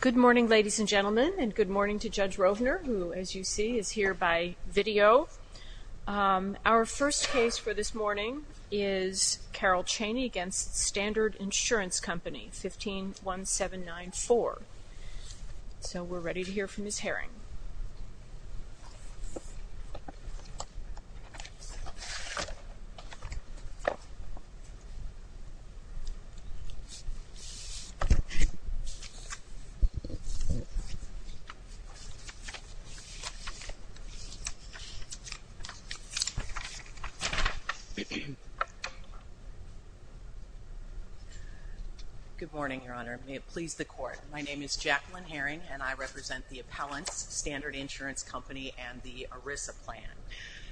Good morning, ladies and gentlemen, and good morning to Judge Rovner, who, as you see, is here by video. Our first case for this morning is Carole Cheney v. Standard Insurance Company, 151794. So we're ready to hear from Ms. Herring. Good morning, Your Honor. May it please the Court. My name is Jacqueline Herring, and I represent the Appellants, Standard Insurance Company, and the ERISA plan.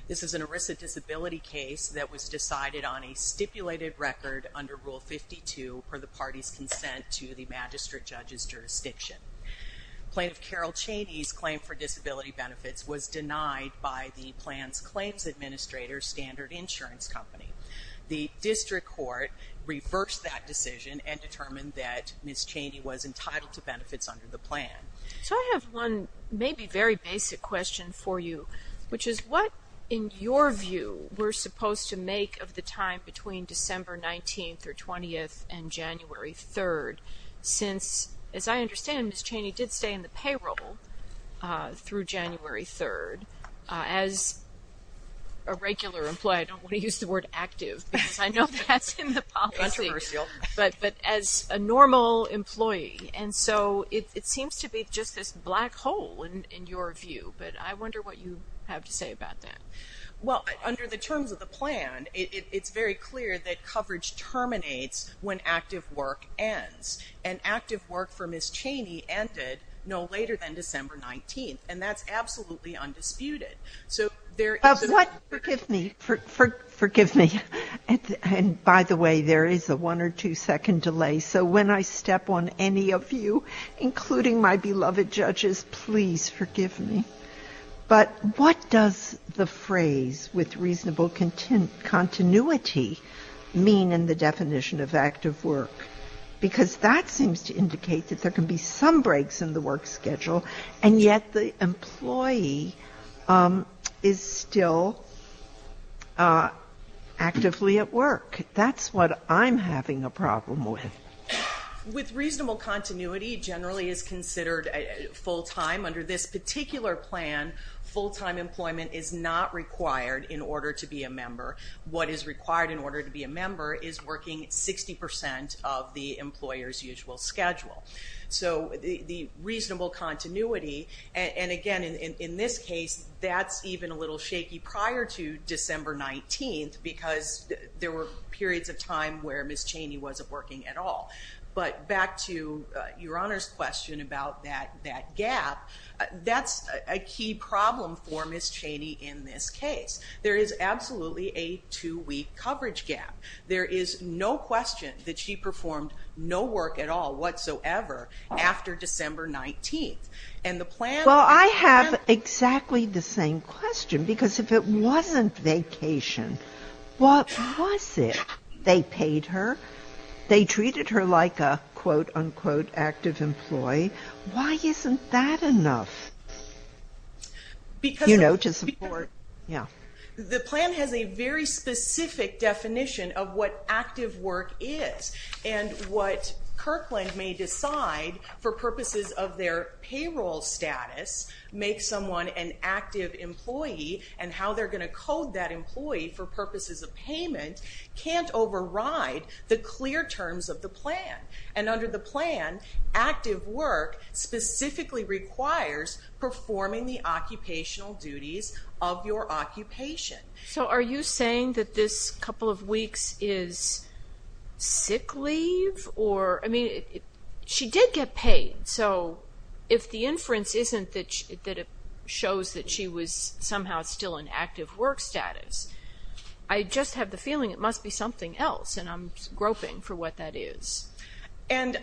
This is an ERISA disability case that was decided on a stipulated record under Rule 52, per the party's consent to the magistrate judge's jurisdiction. Plaintiff Carole Cheney's claim for disability benefits was denied by the plan's claims administrator, Standard Insurance Company. The District Court reversed that decision and determined that Ms. Cheney was entitled to benefits under the plan. So I have one maybe very basic question for you, which is what, in your view, we're supposed to make of the time between December 19th or 20th and January 3rd? Since, as I understand, Ms. Cheney did stay in the payroll through January 3rd. As a regular employee, I don't want to use the word active, because I know that's in the policy, but as a normal employee. And so it seems to be just this black hole, in your view. But I wonder what you have to say about that. Well, under the terms of the plan, it's very clear that coverage terminates when active work ends. And active work for Ms. Cheney ended no later than December 19th. And that's absolutely undisputed. So there is a But what, forgive me, forgive me. And by the way, there is a one or two second delay. So when I step on any of you, including my beloved judges, please forgive me. But what does the phrase, with reasonable continuity, mean in the definition of active work? Because that seems to indicate that there can be some breaks in the work schedule, and yet the employee is still actively at work. That's what I'm having a problem with. With reasonable continuity generally is considered full-time. Under this particular plan, full-time employment is not required in order to be a member. What is required in order to be a member is working 60% of the employer's usual schedule. So the reasonable continuity, and again, in this case, that's even a little shaky prior to December 19th, because there were periods of time where Ms. Cheney wasn't working at all. But back to Your Honor's question about that gap, that's a key problem for Ms. Cheney in this case. There is absolutely a two-week coverage gap. There is no question that she performed no work at all whatsoever after December 19th. And the plan- Well, I have exactly the same question, because if it wasn't vacation, what was it? They paid her like a, quote-unquote, active employee. Why isn't that enough, you know, to support? The plan has a very specific definition of what active work is, and what Kirkland may decide for purposes of their payroll status, make someone an active employee, and how they're going to code that employee for purposes of payment can't override the clear terms of the plan. And under the plan, active work specifically requires performing the occupational duties of your occupation. So are you saying that this couple of weeks is sick leave? I mean, she did get paid, so if the inference isn't that it shows that she was somehow still in active work status, I just have the feeling it must be something else, and I'm groping for what that is. And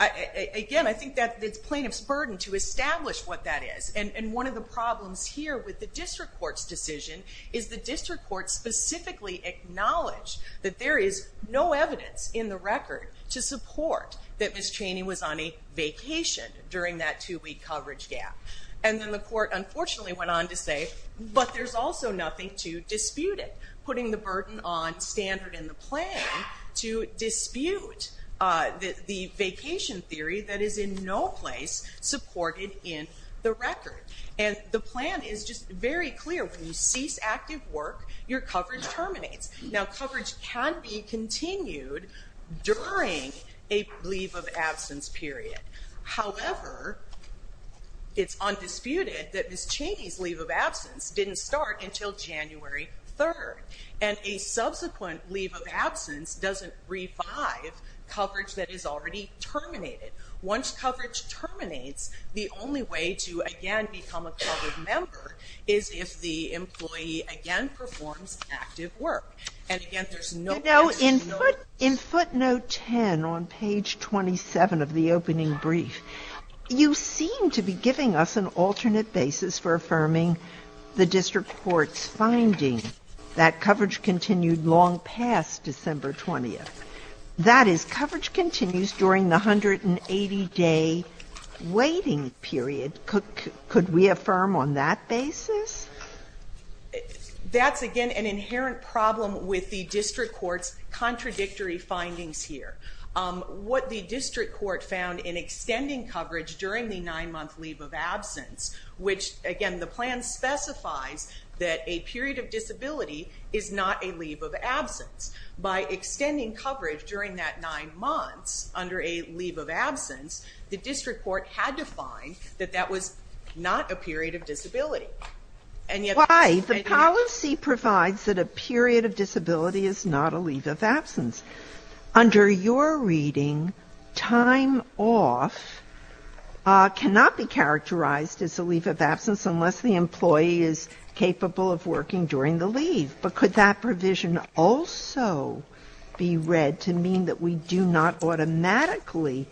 again, I think that's the plaintiff's burden to establish what that is. And one of the problems here with the district court's decision is the district court specifically acknowledged that there is no evidence in the record to support that Ms. Cheney was on a vacation during that two-week coverage gap. And then the court unfortunately went on to say, but there's also nothing to dispute it, putting the burden on standard in the plan to dispute the vacation theory that is in no place supported in the record. And the plan is just very clear. When you cease active work, your coverage terminates. Now, coverage can be continued during a leave of absence period. However, it's undisputed that Ms. Cheney's leave of absence didn't start until January 3rd, and a subsequent leave of absence doesn't revive coverage that is already terminated. Once coverage terminates, the only way to again become a covered member is if the employee again performs active work. And again, there's no evidence to support that. Sotomayor, you know, in footnote 10 on page 27 of the opening brief, you seem to be giving us an alternate basis for affirming the district court's finding that coverage continued long past December 20th. That is, coverage continues during the 180-day waiting period. Could we affirm on that basis? That's again an inherent problem with the district court's contradictory findings here. What the district court found in extending coverage during the nine-month leave of absence, which again, the plan specifies that a period of disability is not a leave of absence. By extending coverage during that nine months under a leave of absence, the district court had to find that that was not a period of disability. Why? The policy provides that a period of disability is not a leave of absence. Under your reading, time off cannot be characterized as a leave of absence unless the employee is capable of working during the leave. But could that provision also be read to mean that we do not automatically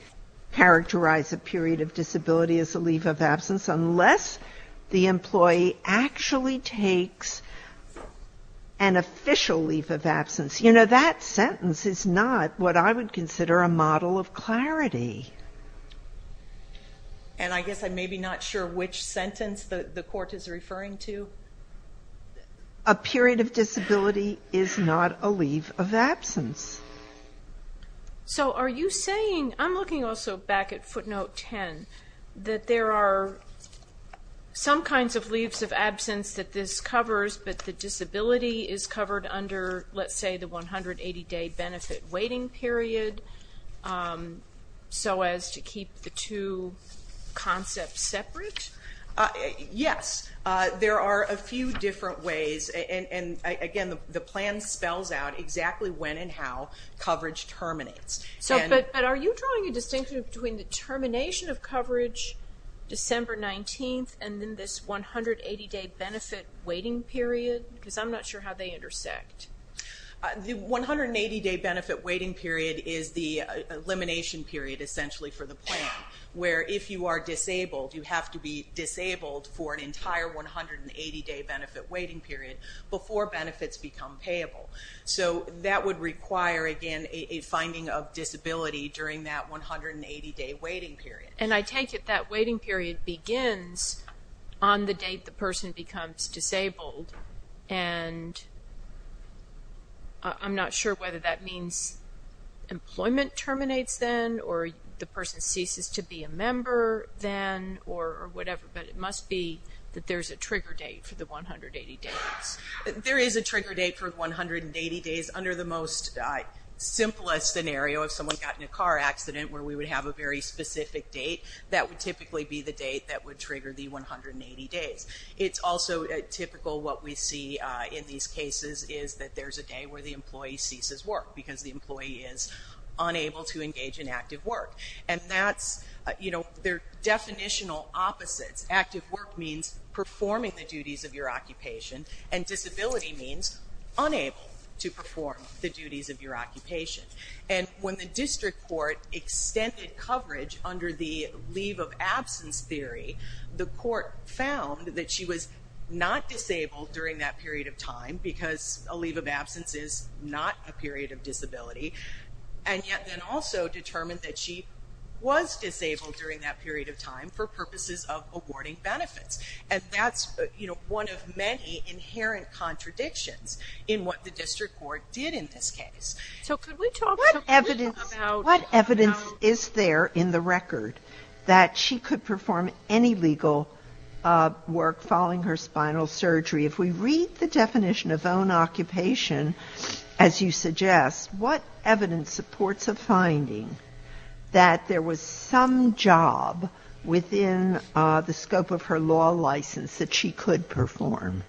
characterize a period of disability as a leave of absence unless the employee actually takes an official leave of absence? You know, that sentence is not what I would consider a model of clarity. And I guess I'm maybe not sure which sentence the court is referring to. A period of disability is not a leave of absence. So are you saying, I'm looking also back at footnote 10, that there are some kinds of leaves of absence that this covers, but the disability is covered under, let's say, the 180-day benefit waiting period, so as to keep the two concepts separate? Yes. There are a few different ways, and again, the plan spells out exactly when and how coverage terminates. Are you drawing a distinction between the termination of coverage, December 19th, and then this 180-day benefit waiting period? Because I'm not sure how they intersect. The 180-day benefit waiting period is the elimination period, essentially, for the plan, where if you are disabled, you have to be disabled for an entire 180-day benefit waiting period before benefits become payable. So that would require, again, a finding of disability during that 180-day waiting period. And I take it that waiting period begins on the date the person becomes disabled, and I'm not sure whether that means employment terminates then, or the person ceases to be a member then, or whatever, but it must be that there's a trigger date for the 180 days. There is a trigger date for the 180 days. Under the most simplest scenario, if someone got in a car accident, where we would have a very specific date, that would typically be the date that would trigger the 180 days. It's also typical what we see in these cases is that there's a day where the employee ceases work because the employee is unable to engage in active work. And that's, you know, they're definitional opposites. Active work means performing the duties of your occupation, and disability means unable to perform the duties of your occupation. And when the district court extended coverage under the leave of absence theory, the court found that she was not disabled during that period of time, because a leave of absence is not a period of disability, and yet then also determined that she was disabled during that period of time for purposes of awarding benefits. And that's, you know, one of many inherent contradictions in what the district court did in this case. So could we talk a little bit about... What evidence is there in the record that she could perform any legal work following her spinal surgery? If we read the definition of own occupation, as you suggest, what evidence supports a finding that there was some job within the scope of her law license that she could perform?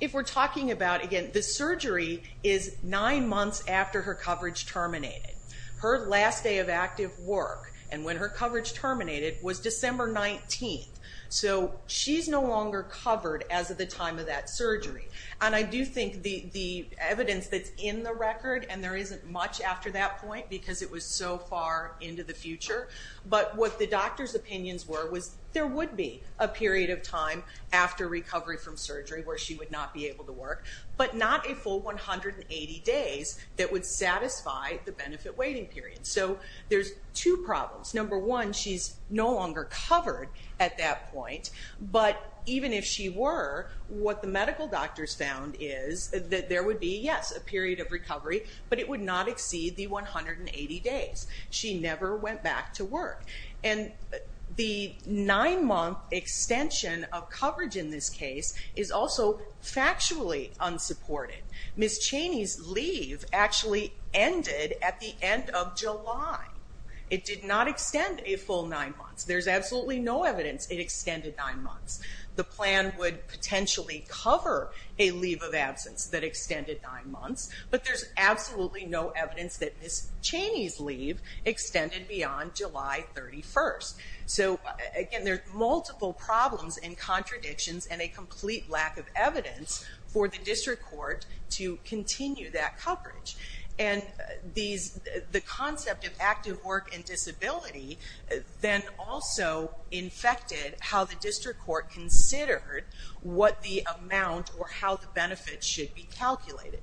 If we're talking about, again, the surgery is nine months after her coverage terminated. Her last day of active work, and when her coverage terminated, was December 19th. So she's no longer covered as of the time of that surgery. And I do think the evidence that's in the record, and there isn't much after that point because it was so far into the future, but what the doctor's opinions were was there would be a period of time after recovery from surgery where she would not be able to work, but not a full 180 days that would satisfy the benefit waiting period. So there's two problems. Number one, she's no longer covered at that point, but even if she were, what the medical doctors found is that there would be, yes, a period of recovery, but it would not exceed the 180 days. She never went back to work. And the nine-month extension of coverage in this case is also factually unsupported. Ms. Cheney's leave actually ended at the end of July. It did not extend a full nine months. There's absolutely no evidence it extended nine months. The plan would potentially cover a leave of absence that extended nine months, but there's absolutely no evidence that Ms. Cheney's leave extended beyond July 31st. So again, there's multiple problems and contradictions and a complete lack of evidence for the district court to continue that coverage. And the concept of active work and disability then also infected how the district court considered what the amount or how the benefits should be calculated.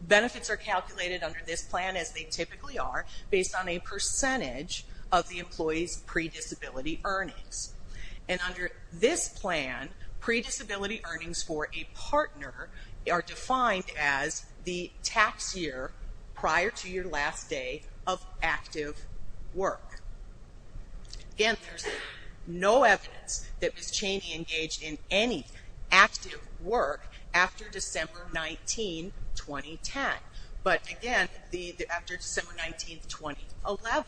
Benefits are calculated under this plan as they typically are based on a percentage of the employee's pre-disability earnings. And under this plan, pre-disability earnings for a partner are defined as the tax year prior to your last day of active work. Again, there's no evidence that Ms. Cheney engaged in any active work after December 19, 2010. But again, after December 19, 2011.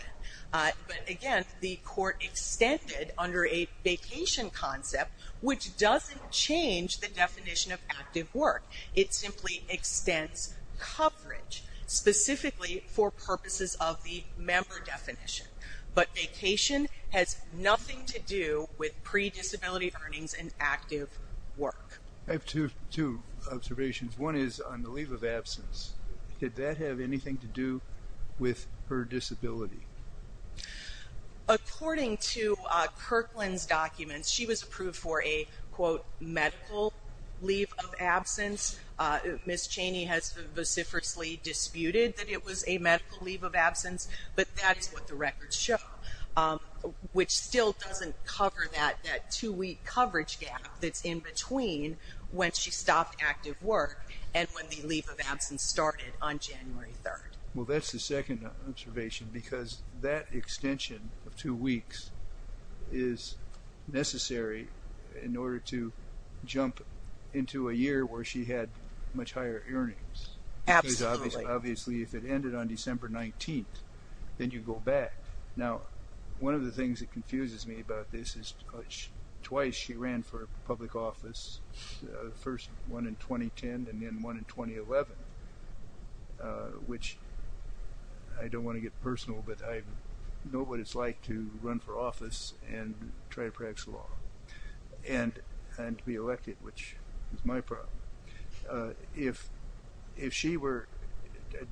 But again, the court extended under a vacation concept, which doesn't change the definition of active work. It simply extends coverage specifically for purposes of the member definition. But vacation has nothing to do with pre-disability earnings and active work. I have two observations. One is on the leave of absence. Did that have anything to do with her disability? According to Kirkland's documents, she was approved for a, quote, medical leave of absence. Ms. Cheney has vociferously disputed that it was a medical leave of absence, but that's what the records show, which still doesn't cover that two-week coverage gap that's in between when she stopped active work and when the leave of absence started on January 3rd. Well, that's the second observation because that extension of two weeks is necessary in to a year where she had much higher earnings, because obviously if it ended on December 19th, then you go back. Now, one of the things that confuses me about this is twice she ran for public office, the first one in 2010 and then one in 2011, which I don't want to get personal, but I know what it's like to run for office and try to practice law and to be elected, which is my problem. If she were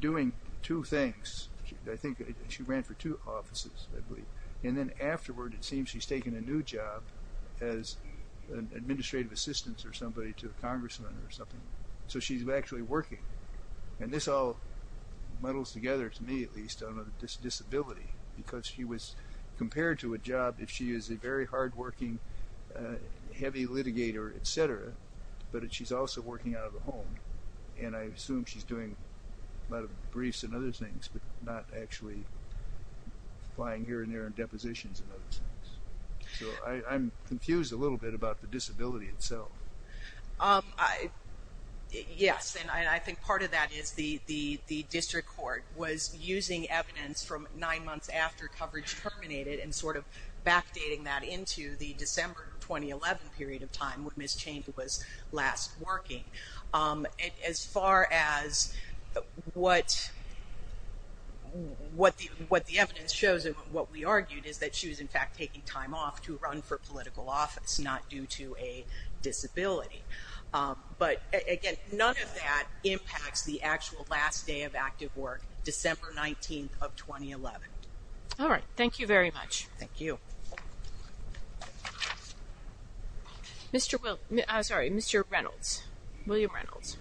doing two things, I think she ran for two offices, I believe, and then afterward it seems she's taken a new job as an administrative assistant or somebody to a congressman or something, so she's actually working. And this all muddles together, to me at least, on a disability, because she was compared to a job if she is a very hard-working, heavy litigator, et cetera, but she's also working out of the home, and I assume she's doing a lot of briefs and other things, but not actually flying here and there in depositions and other things. So I'm confused a little bit about the disability itself. Yes, and I think part of that is the district court was using evidence from nine months after coverage terminated and sort of backdating that into the December 2011 period of time when Ms. Chain was last working. As far as what the evidence shows and what we argued is that she was in fact taking time off to run for political office, not due to a disability. But again, none of that impacts the actual last day of active work, December 19th of 2011. All right, thank you very much. Thank you. Mr. Reynolds, William Reynolds.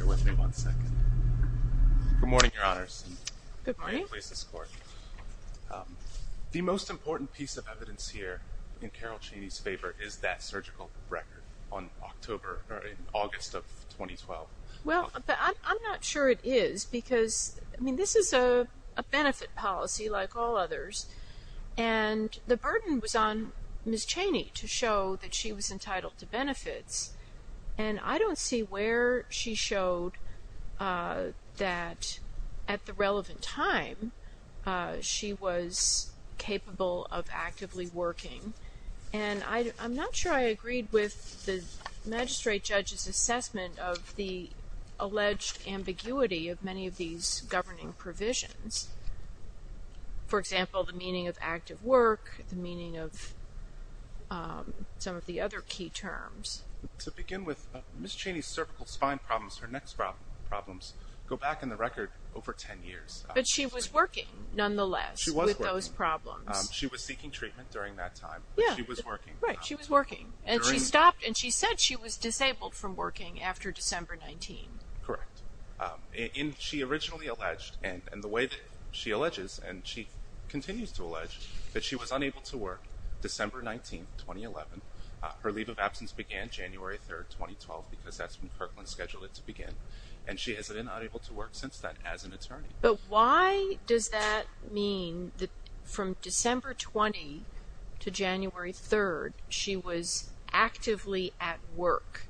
Good morning, Your Honors. Good morning. Thank you for letting me replace this court. The most important piece of evidence here in Carol Cheney's favor is that surgical record on October, or in August of 2012. Well, I'm not sure it is because, I mean, this is a benefit policy like all others, and the burden was on Ms. Cheney to show that she was entitled to benefits, and I don't see where she showed that at the relevant time she was capable of actively working. And I'm not sure I agreed with the magistrate judge's assessment of the alleged ambiguity of many of these governing provisions. For example, the meaning of active work, the meaning of some of the other key terms. To begin with, Ms. Cheney's cervical spine problems, her neck problems, go back in the record over 10 years. But she was working, nonetheless, with those problems. She was seeking treatment during that time. Yeah. She was working. Right, she was working. And she stopped, and she said she was disabled from working after December 19th. Correct. And she originally alleged, and the way that she alleges, and she continues to allege, that she was unable to work December 19th, 2011. Her leave of absence began January 3rd, 2012, because that's when Kirkland scheduled it to begin. And she has been unable to work since then as an attorney. But why does that mean that from December 20th to January 3rd, she was actively at work?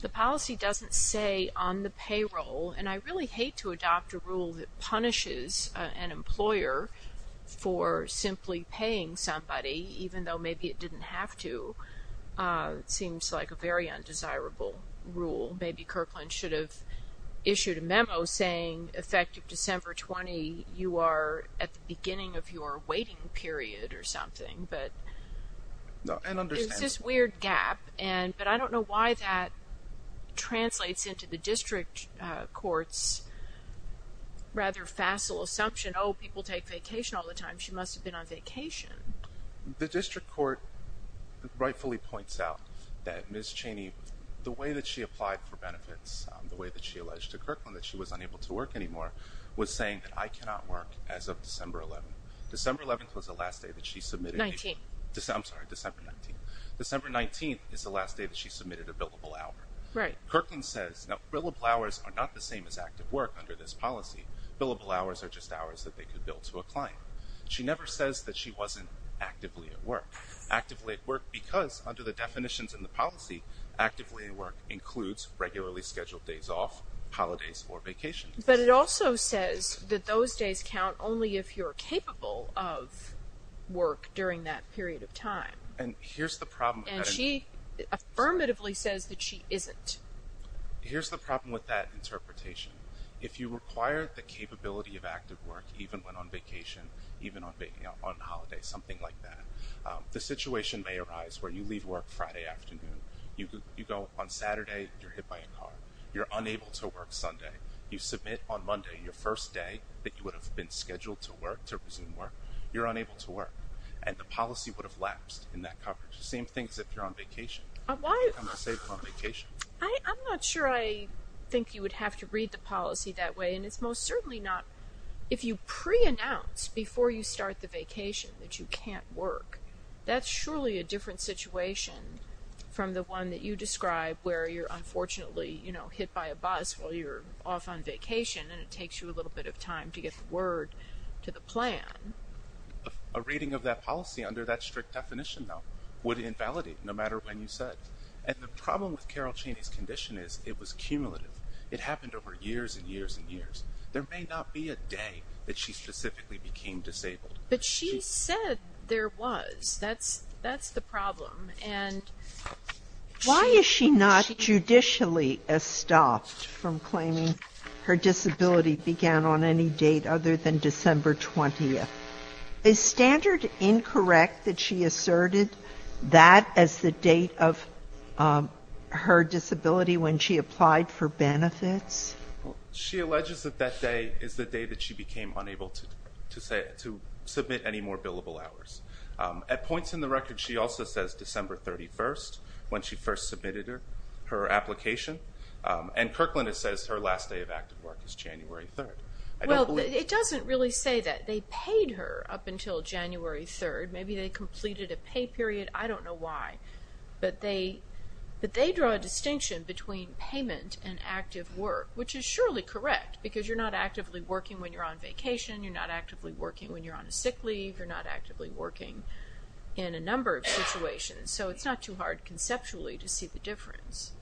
The policy doesn't say on the payroll, and I really hate to adopt a rule that punishes an employer for simply paying somebody, even though maybe it didn't have to. It seems like a very undesirable rule. Maybe Kirkland should have issued a memo saying, effective December 20, you are at the beginning of your waiting period or something. And understandable. It's this weird gap. But I don't know why that translates into the district court's rather facile assumption, oh, people take vacation all the time. She must have been on vacation. The district court rightfully points out that Ms. Cheney, the way that she applied for benefits, the way that she alleged to Kirkland that she was unable to work anymore, was saying that I cannot work as of December 11th. December 11th was the last day that she submitted. 19th. I'm sorry, December 19th. December 19th is the last day that she submitted a billable hour. Right. Kirkland says, now, billable hours are not the same as active work under this policy. Billable hours are just hours that they could bill to a client. She never says that she wasn't actively at work. Actively at work because, under the definitions in the policy, actively at work includes regularly scheduled days off, holidays, or vacations. But it also says that those days count only if you're capable of work during that period of time. And here's the problem. And she affirmatively says that she isn't. Here's the problem with that interpretation. If you require the capability of active work, even when on vacation, even on holidays, something like that, the situation may arise where you leave work Friday afternoon. You go on Saturday, you're hit by a car. You're unable to work Sunday. You submit on Monday, your first day that you would have been scheduled to work, to resume work. You're unable to work. And the policy would have lapsed in that coverage. The same thing is if you're on vacation. Why? You become unsafe on vacation. I'm not sure I think you would have to read the policy that way. And it's most certainly not if you preannounce before you start the vacation that you can't work. That's surely a different situation from the one that you describe where you're unfortunately, you know, hit by a bus while you're off on vacation and it takes you a little bit of time to get the word to the plan. A reading of that policy under that strict definition, though, would invalidate no matter when you said. And the problem with Carol Cheney's condition is it was cumulative. It happened over years and years and years. There may not be a day that she specifically became disabled. But she said there was. That's the problem. Why is she not judicially estopped from claiming her disability began on any date other than December 20th? Is standard incorrect that she asserted that as the date of her disability when she applied for benefits? She alleges that that day is the day that she became unable to submit any more billable hours. At points in the record, she also says December 31st when she first submitted her application. And Kirkland says her last day of active work is January 3rd. Well, it doesn't really say that. They paid her up until January 3rd. Maybe they completed a pay period. I don't know why. But they draw a distinction between payment and active work, which is surely correct, because you're not actively working when you're on vacation. You're not actively working when you're on a sick leave. You're not actively working in a number of situations. So it's not too hard conceptually to see the difference.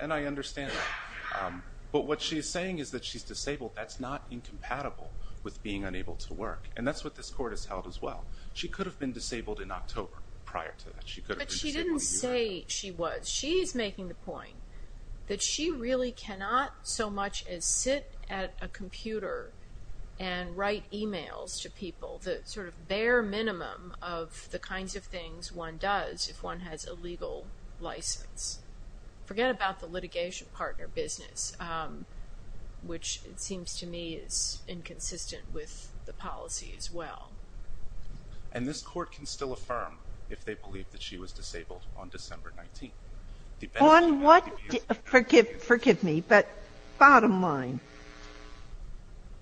And I understand that. But what she's saying is that she's disabled. That's not incompatible with being unable to work. And that's what this Court has held as well. She could have been disabled in October prior to that. But she didn't say she was. She's making the point that she really cannot so much as sit at a computer and write e-mails to people, the sort of bare minimum of the kinds of things one does if one has a legal license. Forget about the litigation partner business, which it seems to me is inconsistent with the policy as well. And this Court can still affirm if they believe that she was disabled on December 19. Forgive me, but bottom line,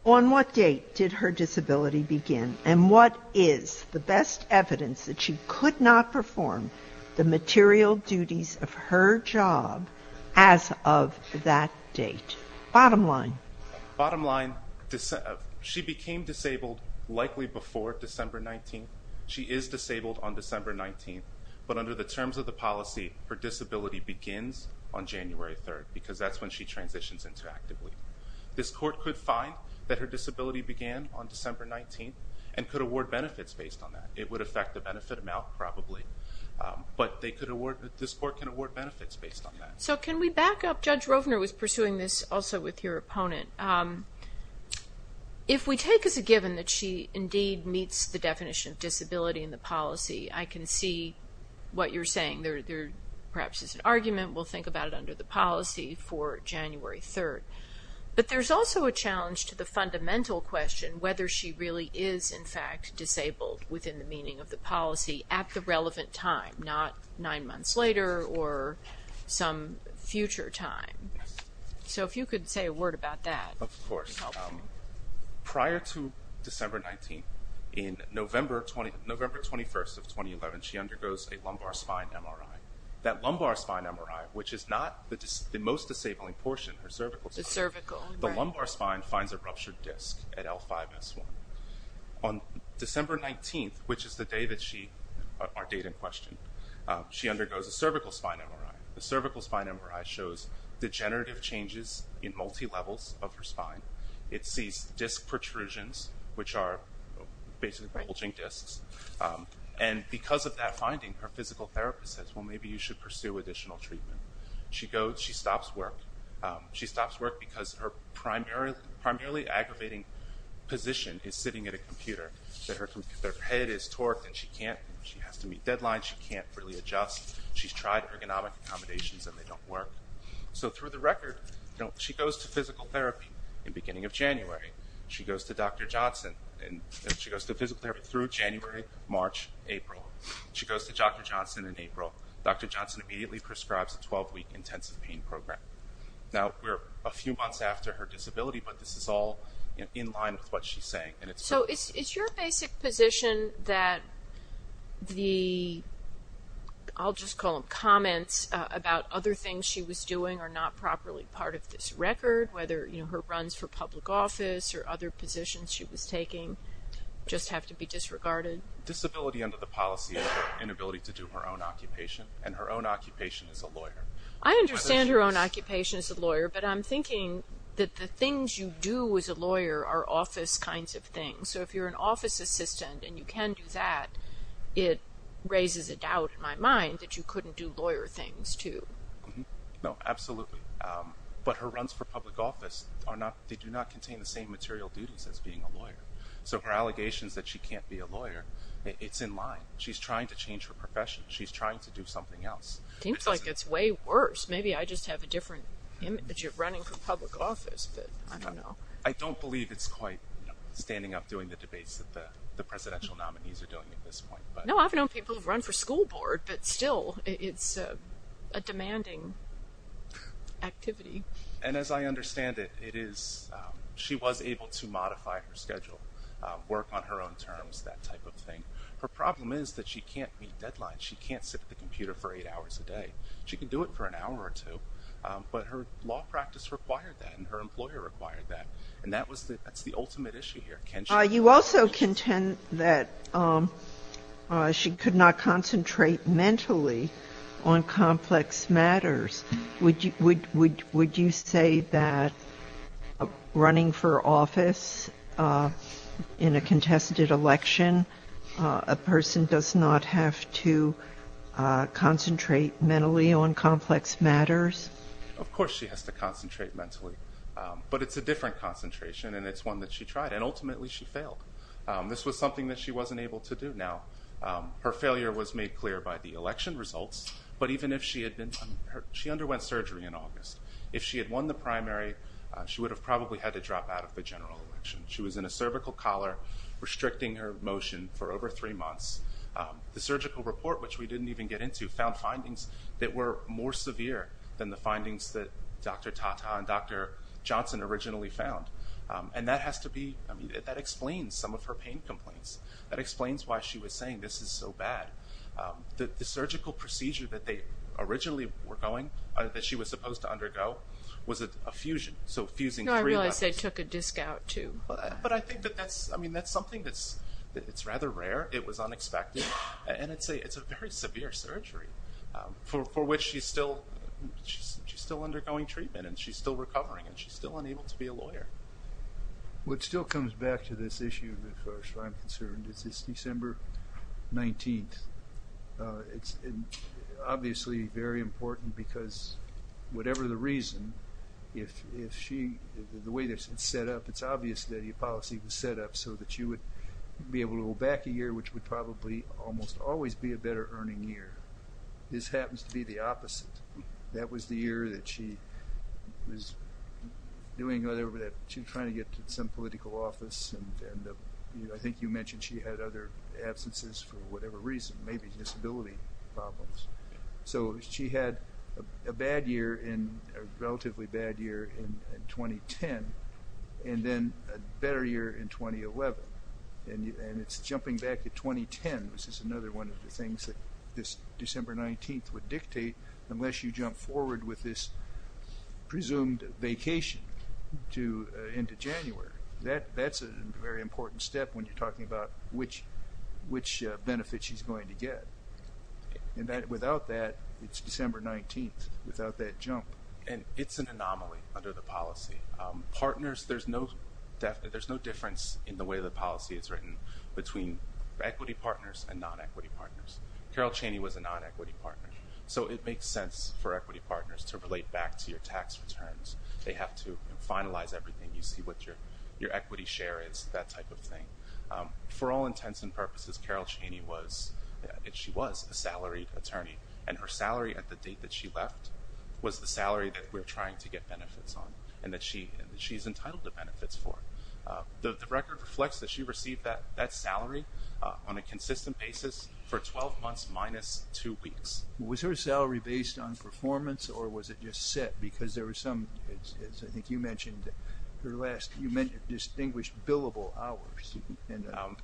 on what date did her disability begin? And what is the best evidence that she could not perform the material duties of her job as of that date? Bottom line. Bottom line, she became disabled likely before December 19. She is disabled on December 19. But under the terms of the policy, her disability begins on January 3rd because that's when she transitions into active leave. This Court could find that her disability began on December 19 and could award benefits based on that. It would affect the benefit amount probably. But this Court can award benefits based on that. So can we back up? Judge Rovner was pursuing this also with your opponent. If we take as a given that she indeed meets the definition of disability in the policy, I can see what you're saying. There perhaps is an argument. We'll think about it under the policy for January 3rd. But there's also a challenge to the fundamental question whether she really is in fact disabled within the meaning of the policy at the relevant time, not nine months later or some future time. So if you could say a word about that. Of course. Prior to December 19, in November 21st of 2011, she undergoes a lumbar spine MRI. That lumbar spine MRI, which is not the most disabling portion, her cervical. The cervical, right. The lumbar spine finds a ruptured disc at L5-S1. On December 19th, which is the day that she, our date in question, she undergoes a cervical spine MRI. The cervical spine MRI shows degenerative changes in multi-levels of her spine. It sees disc protrusions, which are basically bulging discs. And because of that finding, her physical therapist says, well, maybe you should pursue additional treatment. She stops work. She stops work because her primarily aggravating position is sitting at a computer. Their head is torqued and she has to meet deadlines. She can't really adjust. She's tried ergonomic accommodations and they don't work. So through the record, she goes to physical therapy in the beginning of January. She goes to Dr. Johnson. She goes to physical therapy through January, March, April. She goes to Dr. Johnson in April. Dr. Johnson immediately prescribes a 12-week intensive pain program. Now, we're a few months after her disability, but this is all in line with what she's saying. So it's your basic position that the, I'll just call them comments, about other things she was doing are not properly part of this record, whether, you know, her runs for public office or other positions she was taking just have to be disregarded? Disability under the policy is her inability to do her own occupation, and her own occupation is a lawyer. I understand her own occupation is a lawyer, but I'm thinking that the things you do as a lawyer are office kinds of things. So if you're an office assistant and you can do that, it raises a doubt in my mind that you couldn't do lawyer things too. No, absolutely. But her runs for public office are not, they do not contain the same material duties as being a lawyer. So her allegations that she can't be a lawyer, it's in line. She's trying to change her profession. She's trying to do something else. It seems like it's way worse. Maybe I just have a different image of running for public office, but I don't know. I don't believe it's quite, you know, standing up doing the debates that the presidential nominees are doing at this point. No, I've known people who've run for school board, but still it's a demanding activity. And as I understand it, it is, she was able to modify her schedule, work on her own terms, that type of thing. Her problem is that she can't meet deadlines. She can't sit at the computer for eight hours a day. She can do it for an hour or two, but her law practice required that and her employer required that. And that was the, that's the ultimate issue here. You also contend that she could not concentrate mentally on complex matters. Would you say that running for office in a contested election, a person does not have to concentrate mentally on complex matters? Of course she has to concentrate mentally, but it's a different concentration and it's one that she tried, and ultimately she failed. This was something that she wasn't able to do. Now, her failure was made clear by the election results, but even if she had been, she underwent surgery in August. If she had won the primary, she would have probably had to drop out of the general election. She was in a cervical collar restricting her motion for over three months. The surgical report, which we didn't even get into, found findings that were more severe than the findings that Dr. Tata and Dr. Johnson originally found. And that has to be, I mean, that explains some of her pain complaints. That explains why she was saying this is so bad. The surgical procedure that they originally were going, that she was supposed to undergo, was a fusion. So fusing three levers. No, I realize they took a disc out, too. But I think that that's something that's rather rare. It was unexpected. And it's a very severe surgery, for which she's still undergoing treatment and she's still recovering and she's still unable to be a lawyer. What still comes back to this issue, as far as I'm concerned, is this December 19th. It's obviously very important because, whatever the reason, if she, the way it's set up, it's obvious that a policy was set up so that she would be able to go back a year, which would probably almost always be a better earning year. This happens to be the opposite. That was the year that she was doing, she was trying to get some political office. I think you mentioned she had other absences for whatever reason, maybe disability problems. So she had a bad year, a relatively bad year in 2010, and then a better year in 2011. And it's jumping back to 2010, which is another one of the things that this December 19th would dictate, unless you jump forward with this presumed vacation into January. That's a very important step when you're talking about which benefit she's going to get. Without that, it's December 19th, without that jump. And it's an anomaly under the policy. Partners, there's no difference in the way the policy is written between equity partners and non-equity partners. Carol Cheney was a non-equity partner. So it makes sense for equity partners to relate back to your tax returns. They have to finalize everything. You see what your equity share is, that type of thing. For all intents and purposes, Carol Cheney was, she was a salaried attorney, and her salary at the date that she left was the salary that we're trying to get benefits on and that she's entitled to benefits for. The record reflects that she received that salary on a consistent basis for 12 months minus two weeks. Was her salary based on performance or was it just set? Because there was some, as I think you mentioned, her last distinguished billable hours.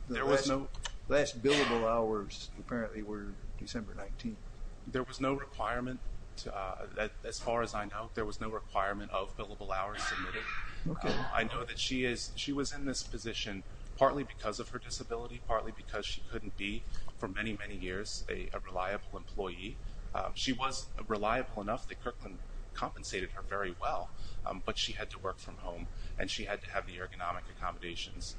The last billable hours apparently were December 19th. There was no requirement, as far as I know, there was no requirement of billable hours submitted. I know that she was in this position partly because of her disability, partly because she couldn't be for many, many years a reliable employee. She was reliable enough that Kirkland compensated her very well, but she had to work from home and she had to have the ergonomic accommodations.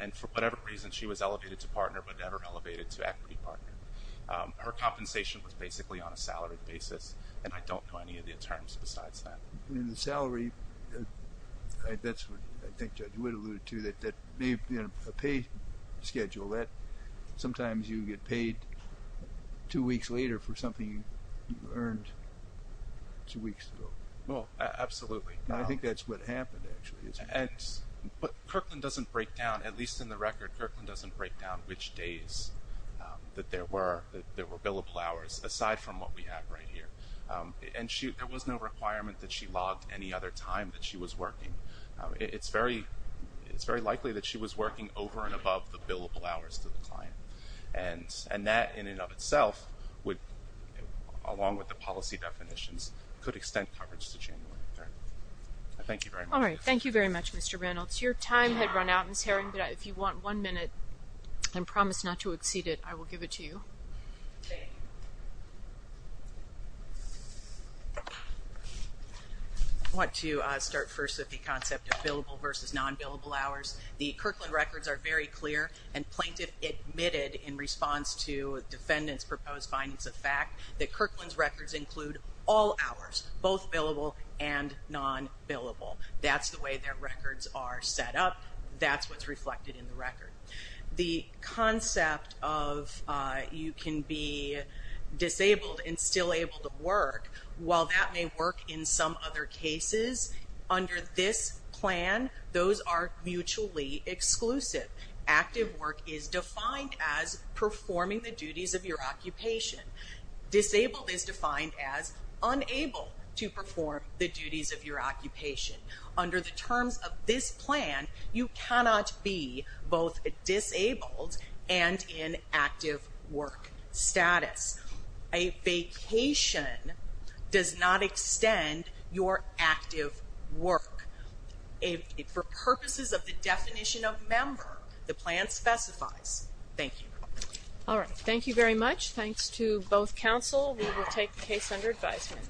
And for whatever reason, she was elevated to partner but never elevated to equity partner. Her compensation was basically on a salaried basis, and I don't know any of the terms besides that. The salary, that's what I think Judge Whit alluded to, that may be on a pay schedule. Sometimes you get paid two weeks later for something you earned two weeks ago. Absolutely. I think that's what happened, actually. Kirkland doesn't break down, at least in the record, Kirkland doesn't break down which days that there were billable hours, aside from what we have right here. And there was no requirement that she logged any other time that she was working. It's very likely that she was working over and above the billable hours to the client. And that in and of itself, along with the policy definitions, could extend coverage to January 3rd. Thank you very much. All right. Thank you very much, Mr. Reynolds. Your time had run out, Ms. Herring, but if you want one minute, and promise not to exceed it, I will give it to you. Thank you. I want to start first with the concept of billable versus non-billable hours. The Kirkland records are very clear, and Plaintiff admitted in response to defendants' proposed findings of fact that Kirkland's records include all hours, both billable and non-billable. That's the way their records are set up. That's what's reflected in the record. The concept of you can be disabled and still able to work, while that may work in some other cases, under this plan, those are mutually exclusive. Active work is defined as performing the duties of your occupation. Disabled is defined as unable to perform the duties of your occupation. Under the terms of this plan, you cannot be both disabled and in active work status. A vacation does not extend your active work. For purposes of the definition of member, the plan specifies. Thank you. All right. Thank you very much. Thanks to both counsel. We will take the case under advisement.